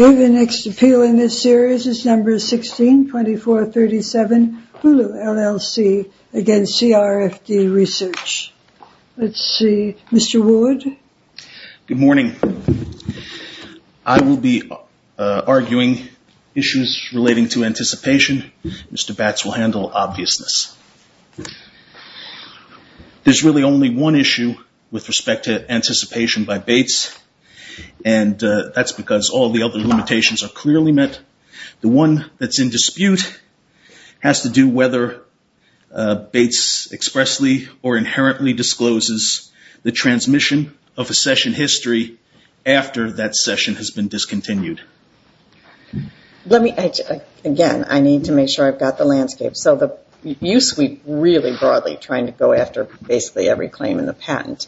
The next appeal in this series is No. 16-2437, Hulu, LLC v. CRFD Research. Good morning. I will be arguing issues relating to anticipation. Mr. Batts will handle obviousness. There's really only one issue with respect to anticipation by Bates, and that's because all the other limitations are clearly met. The one that's in dispute has to do whether Bates expressly or inherently discloses the transmission of a session history after that session has been discontinued. Again, I need to make sure I've got the landscape. You sweep really broadly trying to go after basically every claim in the patent.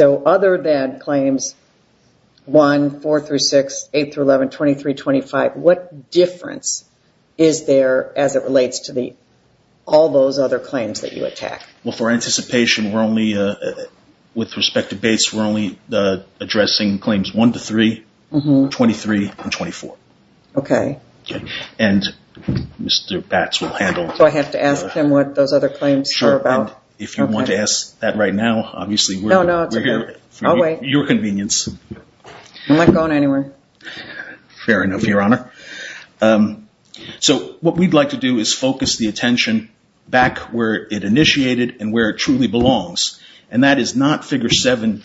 Other than claims 1, 4-6, 8-11, 23-25, what difference is there as it relates to all those other claims that you attack? For anticipation, with respect to Bates, we're only addressing claims 1-3, 23, and 24. Mr. Batts will handle... Do I have to ask him what those other claims are about? If you want to ask that right now, obviously we're here for your convenience. I'm not going anywhere. Fair enough, Your Honor. What we'd like to do is focus the attention back where it initiated and where it truly belongs. That is not figure 7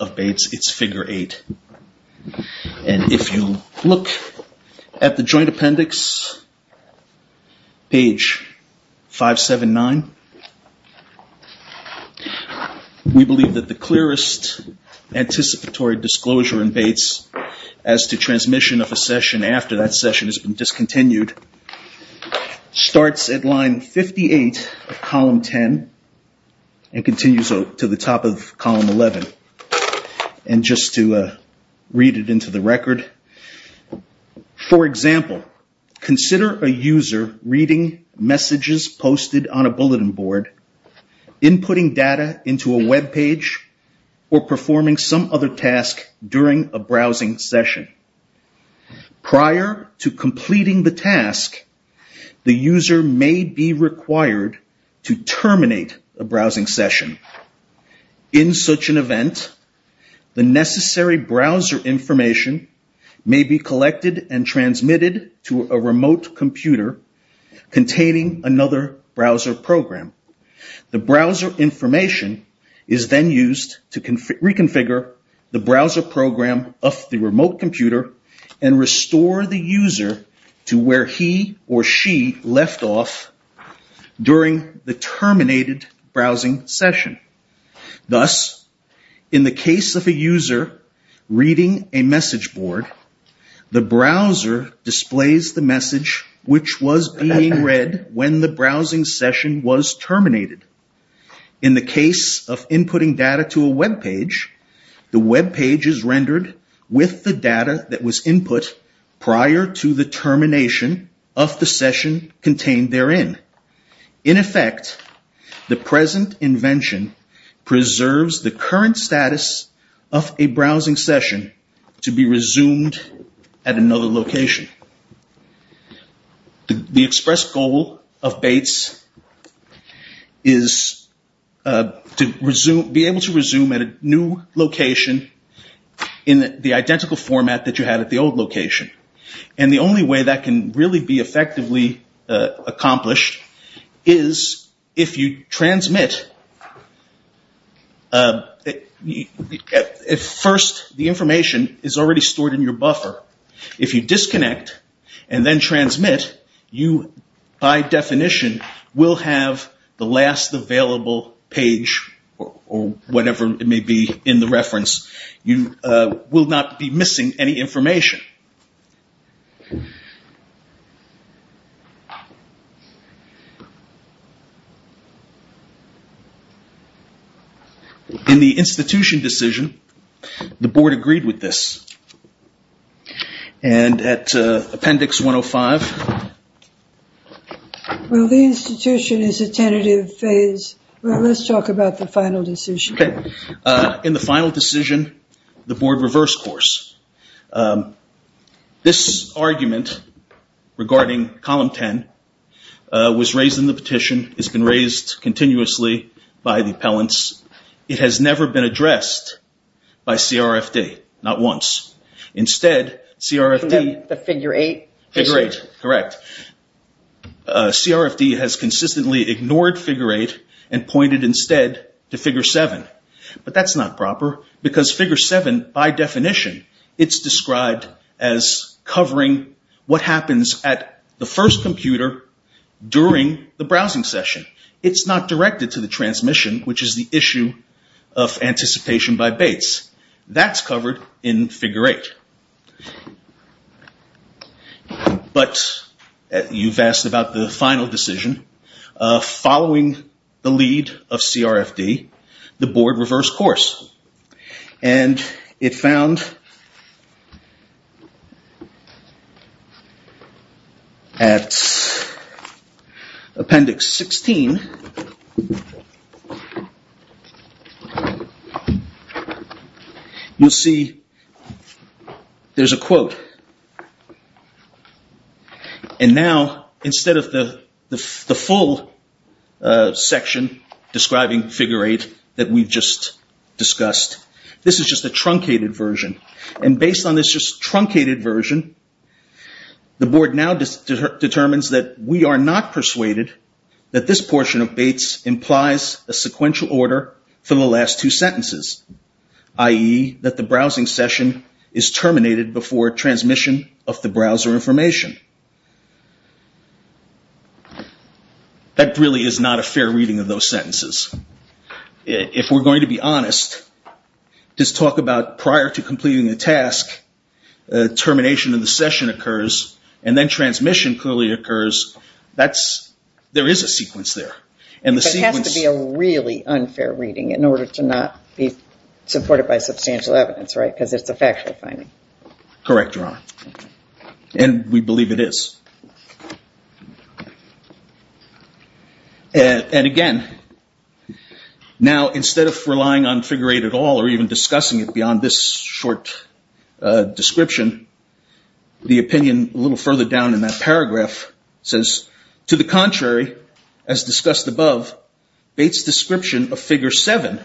of Bates, it's figure 8. If you look at the joint appendix, page 579, we believe that the clearest anticipatory disclosure in Bates as to transmission of a session after that session has been discontinued starts at line 58 of column 10 and continues to the top of column 11. Just to read it into the record, for example, consider a user reading messages posted on a task during a browsing session. Prior to completing the task, the user may be required to terminate a browsing session. In such an event, the necessary browser information may be collected and transmitted to a remote computer containing another browser program. The browser information is then used to reconfigure the browser program of the remote computer and restore the user to where he or she left off during the terminated browsing session. Thus, in the case of a user reading a message board, the browser displays the message which was being read when the browsing session was terminated. In the case of inputting data to a webpage, the webpage is rendered with the data that was input prior to the termination of the session contained therein. In effect, the present invention preserves the current status of a browsing session to be resumed at another location. The express goal of Bates is to be able to resume at a new location in the identical format that you had at the old location. The only way that can really be effectively accomplished is if you transmit... First, the information is already stored in your buffer. If you disconnect and then transmit, you by definition will have the last available page or whatever it may be in the reference. You will not be missing any information. In the institution decision, the board agreed with this. And at appendix 105... Well, the institution is a tentative phase. Let's talk about the final decision. In the final decision, the board reversed course. This argument regarding column 10 was raised in the petition. It's been raised continuously by the appellants. It has never been addressed by CRFD, not once. Instead, CRFD has consistently ignored figure 8 and pointed instead to figure 7. But that's not proper because figure 7, by definition, is described as covering what happens at the first computer during the browsing session. It's not directed to the transmission, which is the issue of anticipation by Bates. That's covered in figure 8. But you've asked about the final decision. Following the lead of CRFD, the board reversed course. And it found... At appendix 16... You'll see there's a quote. And now, instead of the full section describing figure 8 that we've just discussed, this is just a truncated version. And based on this just truncated version, the board now determines that we are not persuaded that this portion of Bates implies a sequential order from the last two sentences. I.e., that the browsing session is terminated before transmission of the browser information. That really is not a fair reading of those sentences. If we're going to be honest, just talk about prior to completing the task, termination of the session occurs, and then transmission clearly occurs. There is a sequence there. But it has to be a really unfair reading in order to not be supported by substantial evidence, right? Because it's a factual finding. Correct, Your Honor. And we believe it is. And again, now instead of relying on figure 8 at all, or even discussing it beyond this short description, the opinion a little further down in that paragraph says, To the contrary, as discussed above, Bates' description of figure 7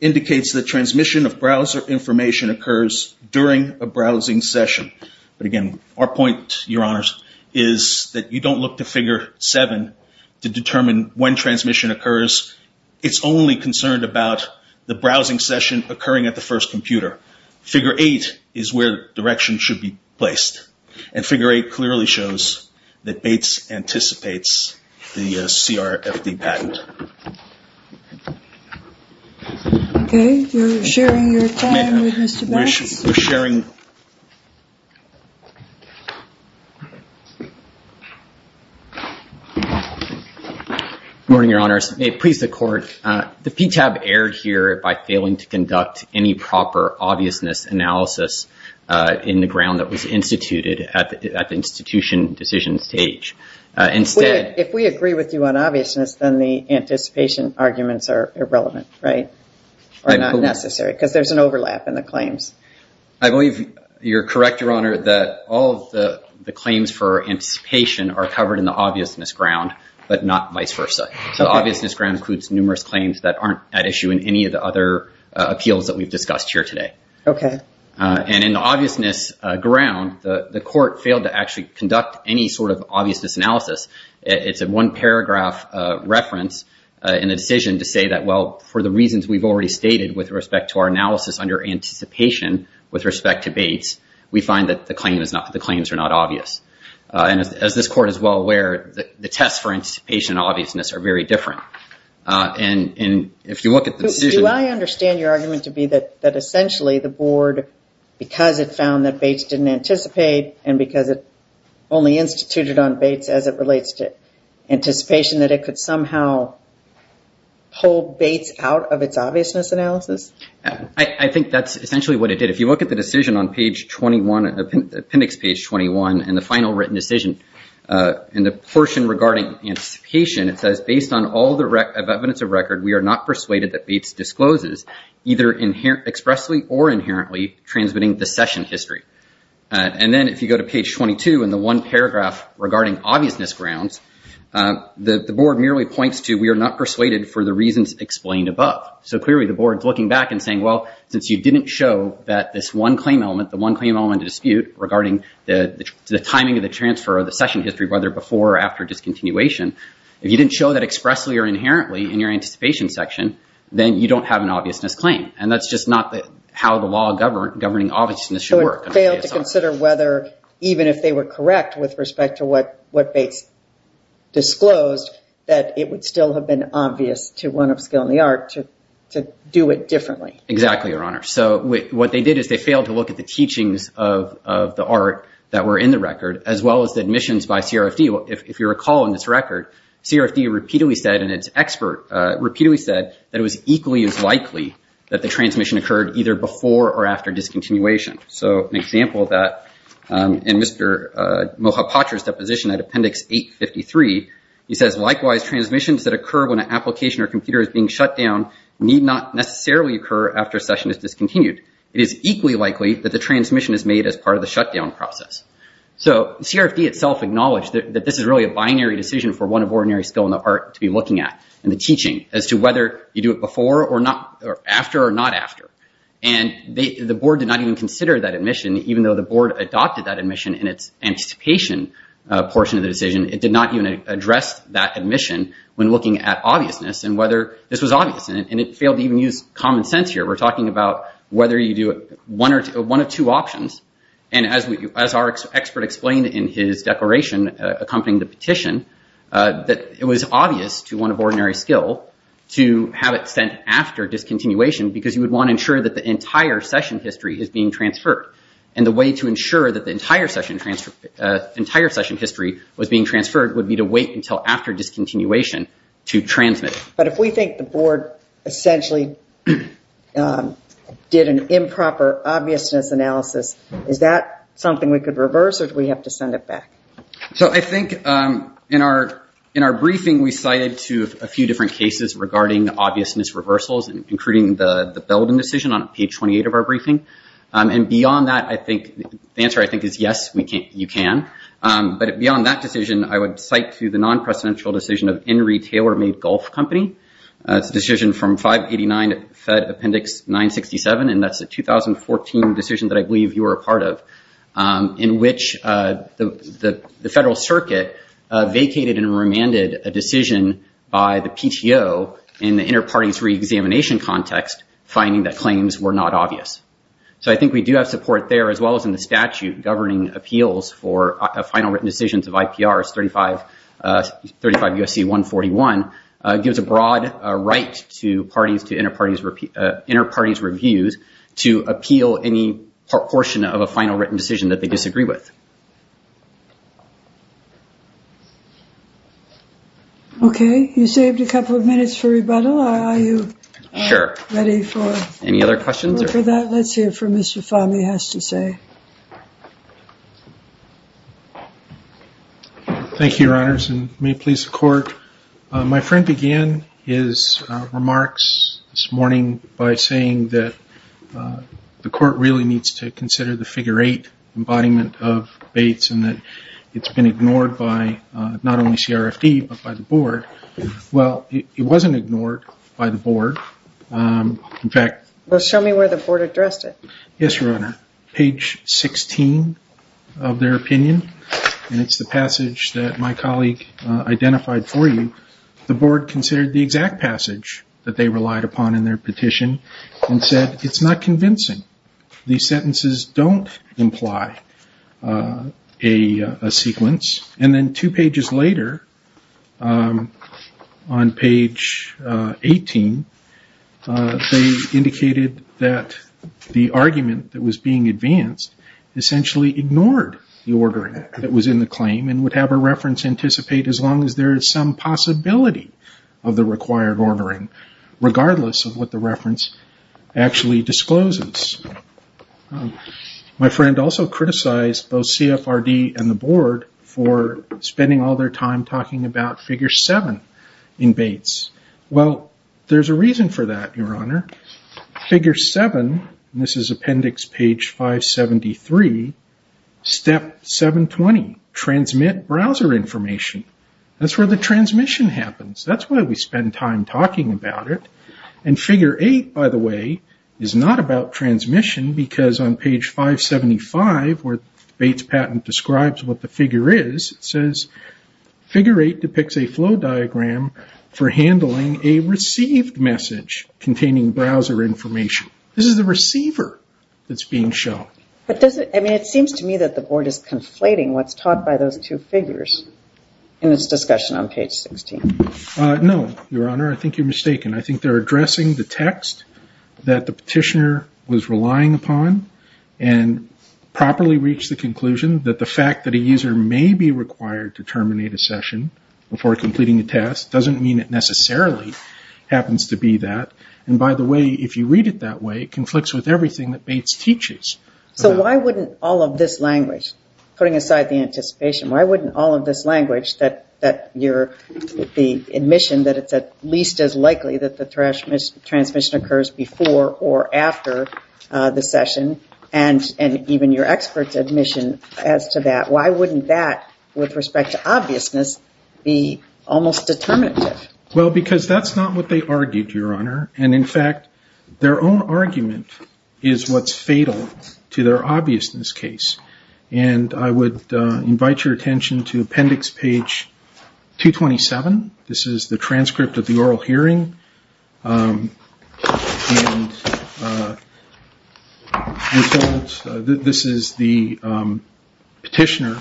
indicates that transmission of browser information occurs during a browsing session. But again, our point, Your Honors, is that you don't look to figure 7 to determine when transmission occurs. It's only concerned about the browsing session occurring at the first computer. Figure 8 is where direction should be placed. And figure 8 clearly shows that Bates anticipates the CRFD patent. Okay, you're sharing your time with Mr. Bates? We're sharing. Good morning, Your Honors. May it please the Court. The PTAB erred here by failing to conduct any proper obviousness analysis in the ground that was instituted at the institution decision stage. If we agree with you on obviousness, then the anticipation arguments are irrelevant, right? Or not necessary, because there's an overlap in the claims. I believe you're correct, Your Honor, that all of the claims for anticipation are covered in the obviousness ground, but not vice versa. So the obviousness ground includes numerous claims that aren't at issue in any of the other appeals that we've discussed here today. Okay. And in the obviousness ground, the Court failed to actually conduct any sort of obviousness analysis. It's a one-paragraph reference in the decision to say that, well, for the reasons we've already stated with respect to our analysis under anticipation with respect to Bates, we find that the claims are not obvious. And as this Court is well aware, the tests for anticipation and obviousness are very different. And if you look at the decision... Do I understand your argument to be that essentially the Board, because it found that Bates didn't anticipate and because it only instituted on Bates as it relates to anticipation, that it could somehow pull Bates out of its obviousness analysis? I think that's essentially what it did. If you look at the decision on page 21, appendix page 21, in the final written decision, in the portion regarding anticipation, it says, based on all the evidence of record, we are not persuaded that Bates discloses either expressly or inherently transmitting the session history. And then if you go to page 22 in the one-paragraph regarding obviousness grounds, the Board merely points to we are not persuaded for the reasons explained above. So clearly the Board's looking back and saying, well, since you didn't show that this one claim element, the one claim element to dispute regarding the timing of the transfer or the session history, whether before or after discontinuation, if you didn't show that expressly or inherently in your anticipation section, then you don't have an obviousness claim. And that's just not how the law governing obviousness should work. So it failed to consider whether, even if they were correct with respect to what Bates disclosed, that it would still have been obvious to one of skill in the art to do it differently. Exactly, Your Honor. So what they did is they failed to look at the teachings of the art that were in the record, as well as the admissions by CRFD. If you recall in this record, CRFD repeatedly said, and its expert repeatedly said, that it was equally as likely that the transmission occurred either before or after discontinuation. So an example of that, in Mr. Mohapatra's deposition at Appendix 853, he says, likewise, transmissions that occur when an application or computer is being shut down need not necessarily occur after a session is discontinued. It is equally likely that the transmission is made as part of the shutdown process. So CRFD itself acknowledged that this is really a binary decision for one of ordinary skill in the art to be looking at, in the teaching, as to whether you do it before or after or not after. And the board did not even consider that admission, even though the board adopted that admission in its anticipation portion of the decision. It did not even address that admission when looking at obviousness and whether this was obvious. And it failed to even use common sense here. We're talking about whether you do one of two options. And as our expert explained in his declaration accompanying the petition, that it was obvious to one of ordinary skill to have it sent after discontinuation because you would want to ensure that the entire session history is being transferred. And the way to ensure that the entire session history was being transferred would be to wait until after discontinuation to transmit it. But if we think the board essentially did an improper obviousness analysis is that something we could reverse or do we have to send it back? So I think in our briefing we cited a few different cases regarding obviousness reversals including the Belden decision on page 28 of our briefing. And beyond that, the answer I think is yes, you can. But beyond that decision, I would cite to the non-presidential decision of Henry Taylor Made Golf Company. It's a decision from 589 Fed Appendix 967 and that's a 2014 decision that I believe you were a part of in which the Federal Circuit vacated and remanded a decision by the PTO in the inter-parties re-examination context finding that claims were not obvious. So I think we do have support there as well as in the statute governing appeals for final written decisions of IPRs 35 U.S.C. 141 gives a broad right to parties to inter-parties reviews to appeal any portion of a final written decision that they disagree with. Okay, you saved a couple of minutes for rebuttal. Are you ready for any other questions? Let's hear from Mr. Fahmy has to say. Thank you, Your Honors and may it please the Court My friend began his remarks this morning by saying that the Court really needs to consider the figure 8 embodiment of Bates and that it's been ignored by not only CRFD but by the Board. Well it wasn't ignored by the Board in fact Well show me where the Board addressed it. Yes, Your Honor. Page 16 of their opinion and it's the passage that my colleague identified for you the Board considered the exact passage that they relied upon in their petition and said it's not convincing these sentences don't imply a sequence and then two pages later on page 18 they indicated that the argument that was being advanced essentially ignored the order that was in the claim and would have a reference anticipate as long as there is some possibility of the required ordering regardless of what the reference actually discloses. My friend also criticized both CFRD and the Board for spending all their time talking about figure 7 in Bates Well there's a reason for that Your Honor. Figure 7 this is appendix page 573 step 720 transmit browser information that's where the transmission happens that's why we spend time talking about it and figure 8 by the way is not about transmission because on page 575 where Bates patent describes what the figure is it says figure 8 depicts a flow diagram for handling a received message containing browser information this is the receiver that's being shown. It seems to me that the Board is conflating what's taught by those two figures in its discussion on page 16 No Your Honor I think you're mistaken. I think they're addressing the text that the petitioner was relying upon and properly reached the conclusion that the fact that a user may be required to terminate a session before completing a test doesn't mean it necessarily happens to be that and by the way if you read it that way it conflicts with everything that Bates teaches. So why wouldn't all of this language putting aside the anticipation why wouldn't all of this language that your admission that it's at least as likely that the transmission occurs before or after the session and even your experts admission as to that why wouldn't that with respect to obviousness be almost determinative Well because that's not what they argued Your Honor and in fact their own argument is what's obvious in this case and I would invite your attention to appendix page 227 this is the transcript of the oral hearing this is the petitioner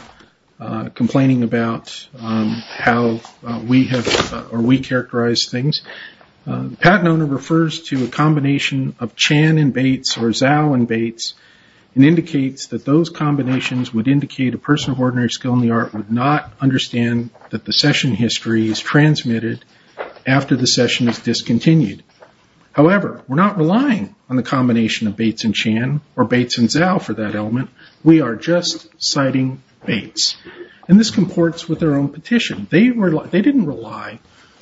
complaining about how we have or we characterize things Pat Nona refers to a combination of Chan and Bates or that those combinations would indicate a person of ordinary skill in the art would not understand that the session history is transmitted after the session is discontinued however we're not relying on the combination of Bates and Chan or Bates and Zhao for that element we are just citing Bates and this comports with their own petition they didn't rely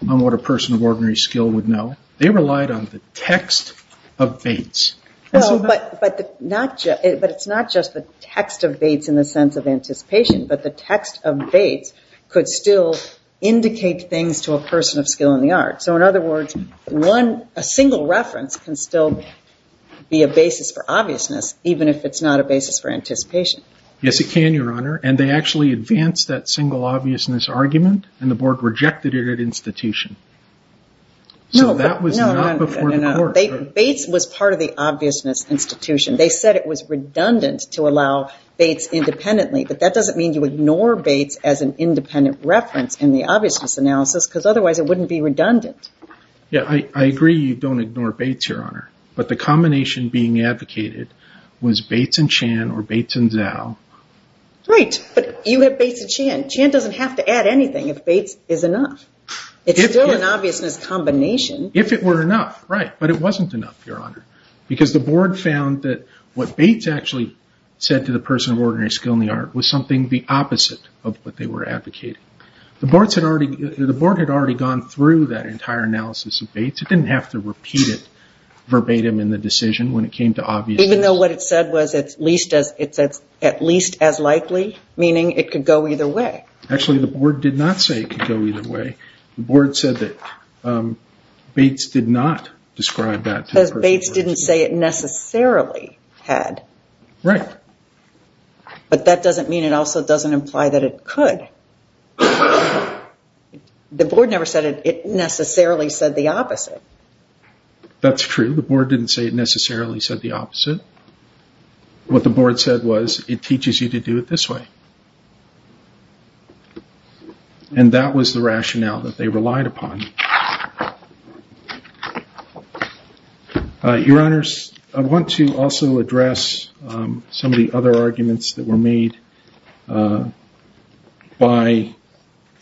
on what a person of ordinary skill would know they relied on the text of Bates but it's not just the text of Bates in the sense of anticipation but the text of Bates could still indicate things to a person of skill in the art so in other words a single reference can still be a basis for obviousness even if it's not a basis for anticipation. Yes it can Your Honor and they actually advanced that single obviousness argument and the board rejected it at institution so that was not before the court Bates was part of the obviousness institution they said it was redundant to allow Bates independently but that doesn't mean you ignore Bates as an independent reference in the obviousness analysis because otherwise it wouldn't be redundant Yeah I agree you don't ignore Bates Your Honor but the combination being advocated was Bates and Chan or Bates and Zhao Right but you have Bates and Chan, Chan doesn't have to add anything if Bates is enough it's still an obviousness combination if it were enough right but it wasn't enough Your Honor because the board found that what Bates actually said to the person of ordinary skill in the art was something the opposite of what they were advocating. The board had already gone through that entire analysis of Bates it didn't have to repeat it verbatim in the decision when it came to obviousness. Even though what it said was it's at least go either way. Actually the board did not say it could go either way. The board said that Bates did not describe that Bates didn't say it necessarily had. Right but that doesn't mean it also doesn't imply that it could the board never said it necessarily said the opposite that's true the board didn't say it necessarily said the opposite what the board said was it teaches you to do it this way and that was the rationale that they relied upon Your Honors I want to also address some of the other arguments that were made by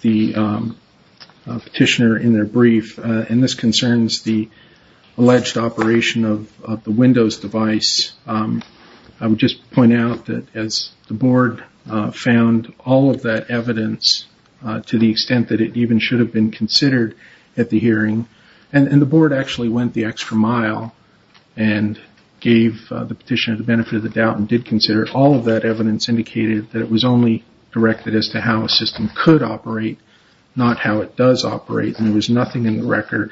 the petitioner in their brief and this concerns the alleged operation of the windows device I would just point out that as the board found all of that evidence to the extent that it even should have been considered at the hearing and the board actually went the extra mile and gave the petitioner the benefit of the doubt and did consider it. All of that evidence indicated that it was only directed as to how a system could operate not how it does operate and there was nothing in the record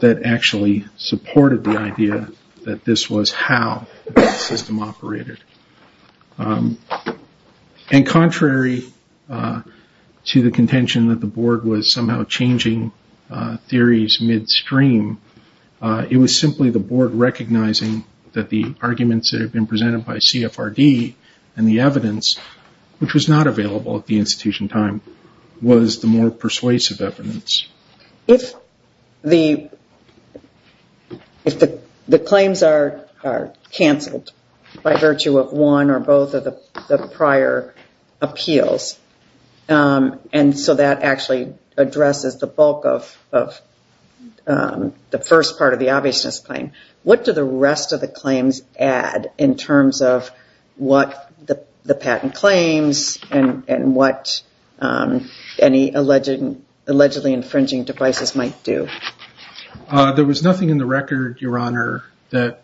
that actually supported the idea that this was how the system operated and contrary to the contention that the board was somehow changing theories midstream it was simply the board recognizing that the arguments that had been presented by CFRD and the evidence which was not available at the institution time was the more persuasive evidence If the claims are canceled by virtue of one or both of the prior appeals and so that actually addresses the bulk of the first part of the obviousness claim. What do the rest of the claims add in terms of what the patent claims and what any allegedly infringing devices might do? There was nothing in the record your honor that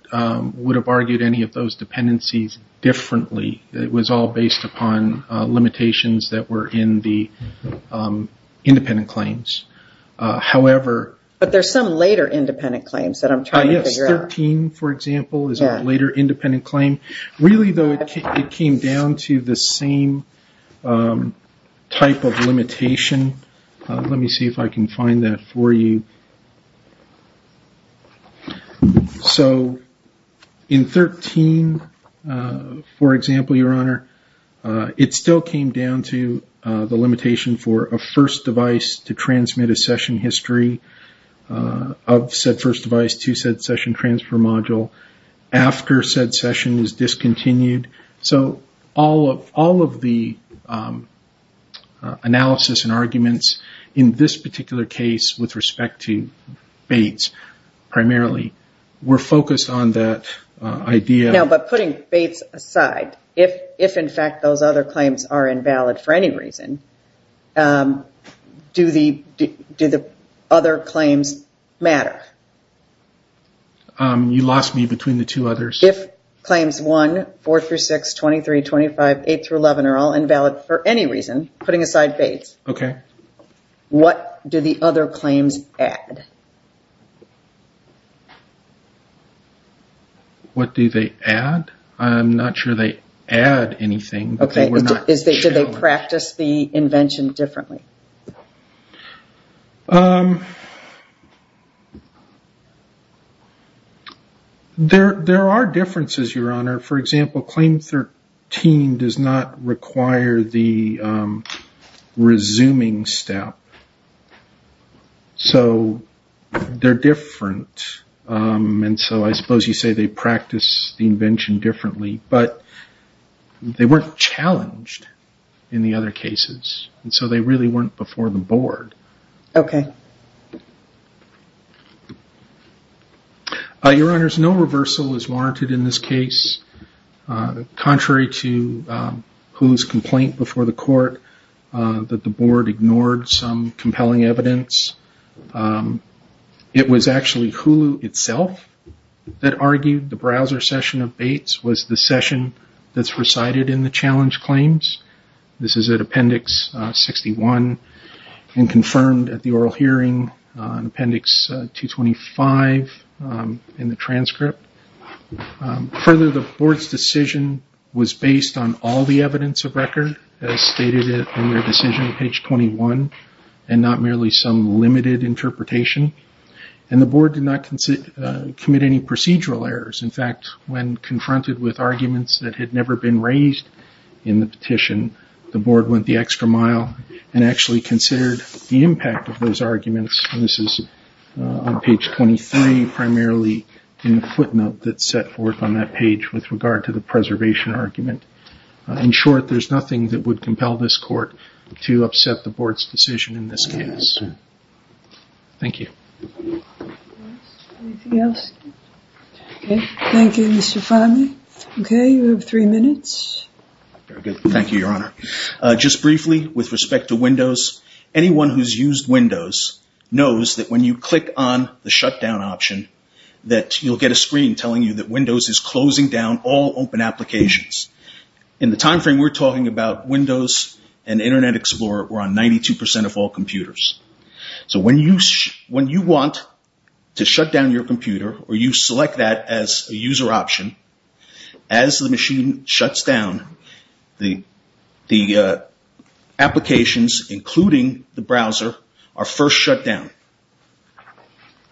would have argued any of those dependencies differently. It was all based upon limitations that were in the independent claims However... But there's some later independent claims that I'm trying to figure out. 13 for example is a later independent claim. Really though it came down to the same type of limitation. Let me see if I can find that for you So in 13 for example your honor it still came down to the limitation for a first device to transmit a session history of said first device to said session transfer module after said session is discontinued So all of the analysis and arguments in this particular case with respect to Bates primarily were focused on that idea. Now but putting Bates aside if in fact those other claims are invalid for any reason do the other claims matter? You lost me between the two others. If claims 1, 4 through 6, 23, 25 8 through 11 are all invalid for any reason, putting aside Bates What do the other claims add? What do they add? I'm not sure they add anything. Did they practice the invention differently? There are differences your honor. For example claim 13 does not require the resuming step so they're different and so I suppose you say they practice the invention differently but they weren't challenged in the other cases and so they really weren't before the board Your honors, no reversal is warranted in this case contrary to Hulu's complaint before the court that the board ignored some compelling evidence it was actually Hulu itself that argued the browser session of Bates was the session that's recited in the challenge claims 61 and confirmed at the oral hearing appendix 225 in the transcript Further the board's decision was based on all the evidence of record as stated in their decision page 21 and not merely some limited interpretation and the board did not commit any procedural errors in fact when confronted with arguments that had never been raised in the petition, the board went the extra mile and actually considered the impact of those arguments and this is on page 23 primarily in the footnote that's set forth on that page with regard to the preservation argument In short, there's nothing that would compel this court to upset the board's decision in this case Thank you Anything else? Okay, thank you Mr. Farley Okay, we have three minutes Very good, thank you your honor Just briefly, with respect to Windows, anyone who's used Windows knows that when you click the shutdown option, that you'll get a screen telling you that Windows is closing down all open applications In the time frame we're talking about Windows and Internet Explorer were on 92% of all computers So when you want to shut down your computer or you select that as a user option, as the machine shuts down the applications, including the browser, are first shut down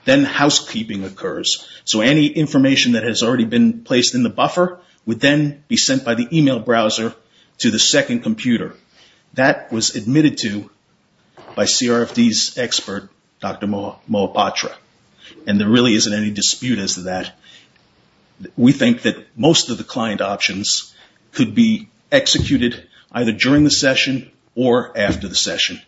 Then housekeeping occurs So any information that has already been placed in the buffer would then be sent by the email browser to the second computer That was admitted to by CRFD's expert, Dr. Moipatra And there really isn't any dispute as to that We think that most of the client options could be executed either during the session or after the session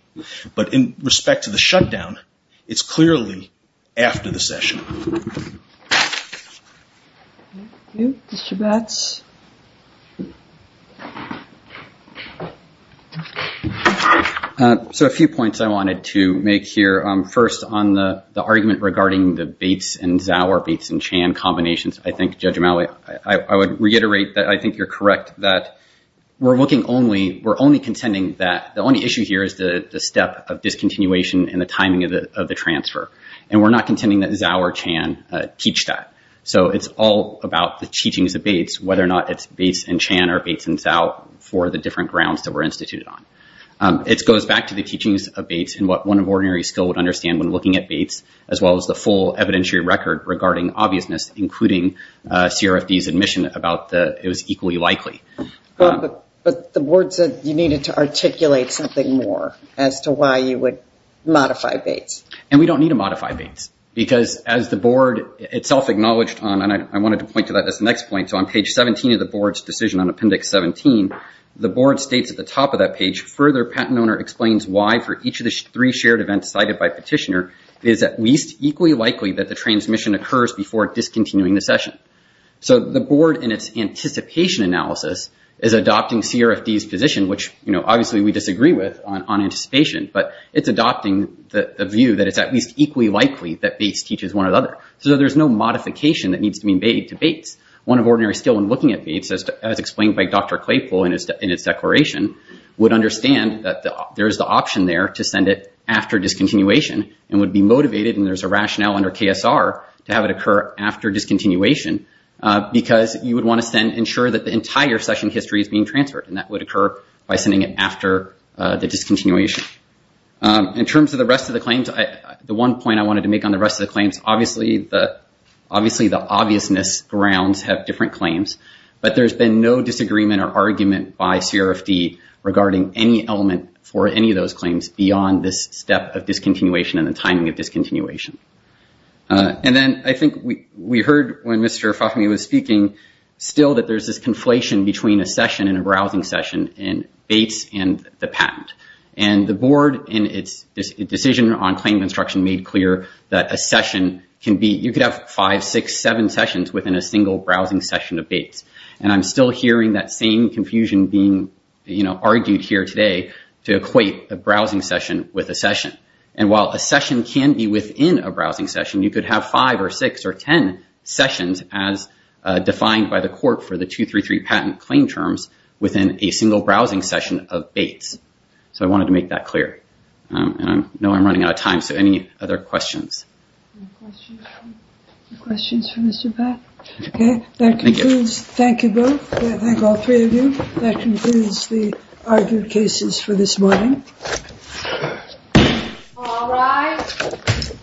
But in respect to the shutdown it's clearly after the session So a few points I wanted to make here, first on the argument regarding the Bates and Zauer, Bates and Chan combinations I think Judge O'Malley, I would reiterate that I think you're correct We're looking only, we're only The issue here is the step of discontinuation and the timing of the transfer And we're not contending that Zauer or Chan teach that, so it's all about the teachings of Bates, whether or not it's Bates and Chan or Bates and Zau for the different grounds that were instituted on It goes back to the teachings of Bates and what one of ordinary skill would understand when looking at Bates, as well as the full evidentiary record regarding obviousness including CRFD's admission about that it was equally likely But the board said you needed to articulate something more as to why you would modify Bates. And we don't need to modify Bates, because as the board itself acknowledged on, and I wanted to point to that as the next point, so on page 17 of the board's decision on appendix 17 the board states at the top of that page further patent owner explains why for each of the three shared events cited by petitioner is at least equally likely that the transmission occurs before discontinuing the session. So the board in its anticipation analysis is adopting CRFD's position which obviously we disagree with on anticipation, but it's adopting the view that it's at least equally likely that Bates teaches one or the other. So there's no modification that needs to be made to Bates. One of ordinary skill when looking at Bates as explained by Dr. Claypool in its declaration, would understand that there's the option there to send it after discontinuation and would be motivated, and there's a rationale under KSR, to have it occur after discontinuation, because you would want to ensure that the entire session history is being transferred, and that would occur by sending it after the discontinuation. In terms of the rest of the claims, the one point I wanted to make on the rest of the claims, obviously the obviousness grounds have different claims, but there's been no disagreement or argument by CRFD regarding any element for any of those claims beyond this step of discontinuation and the timing of discontinuation. And then I think we heard when Mr. Fahmy was speaking still that there's this conflation between a session and a browsing session in Bates and the patent. And the board in its decision on claim construction made clear that a session can be, you could have five, six, seven sessions within a single browsing session of Bates. And I'm still hearing that same confusion being argued here today to equate a browsing session with a session. And while a session can be within a browsing session, you could have five or six or ten sessions as defined by the court for the 233 patent claim terms within a single browsing session of Bates. So I wanted to make that clear. I know I'm running out of time, so any other questions? Any questions for Mr. Fahmy? Thank you both. Thank all three of you. That concludes the argued cases for this morning. All rise.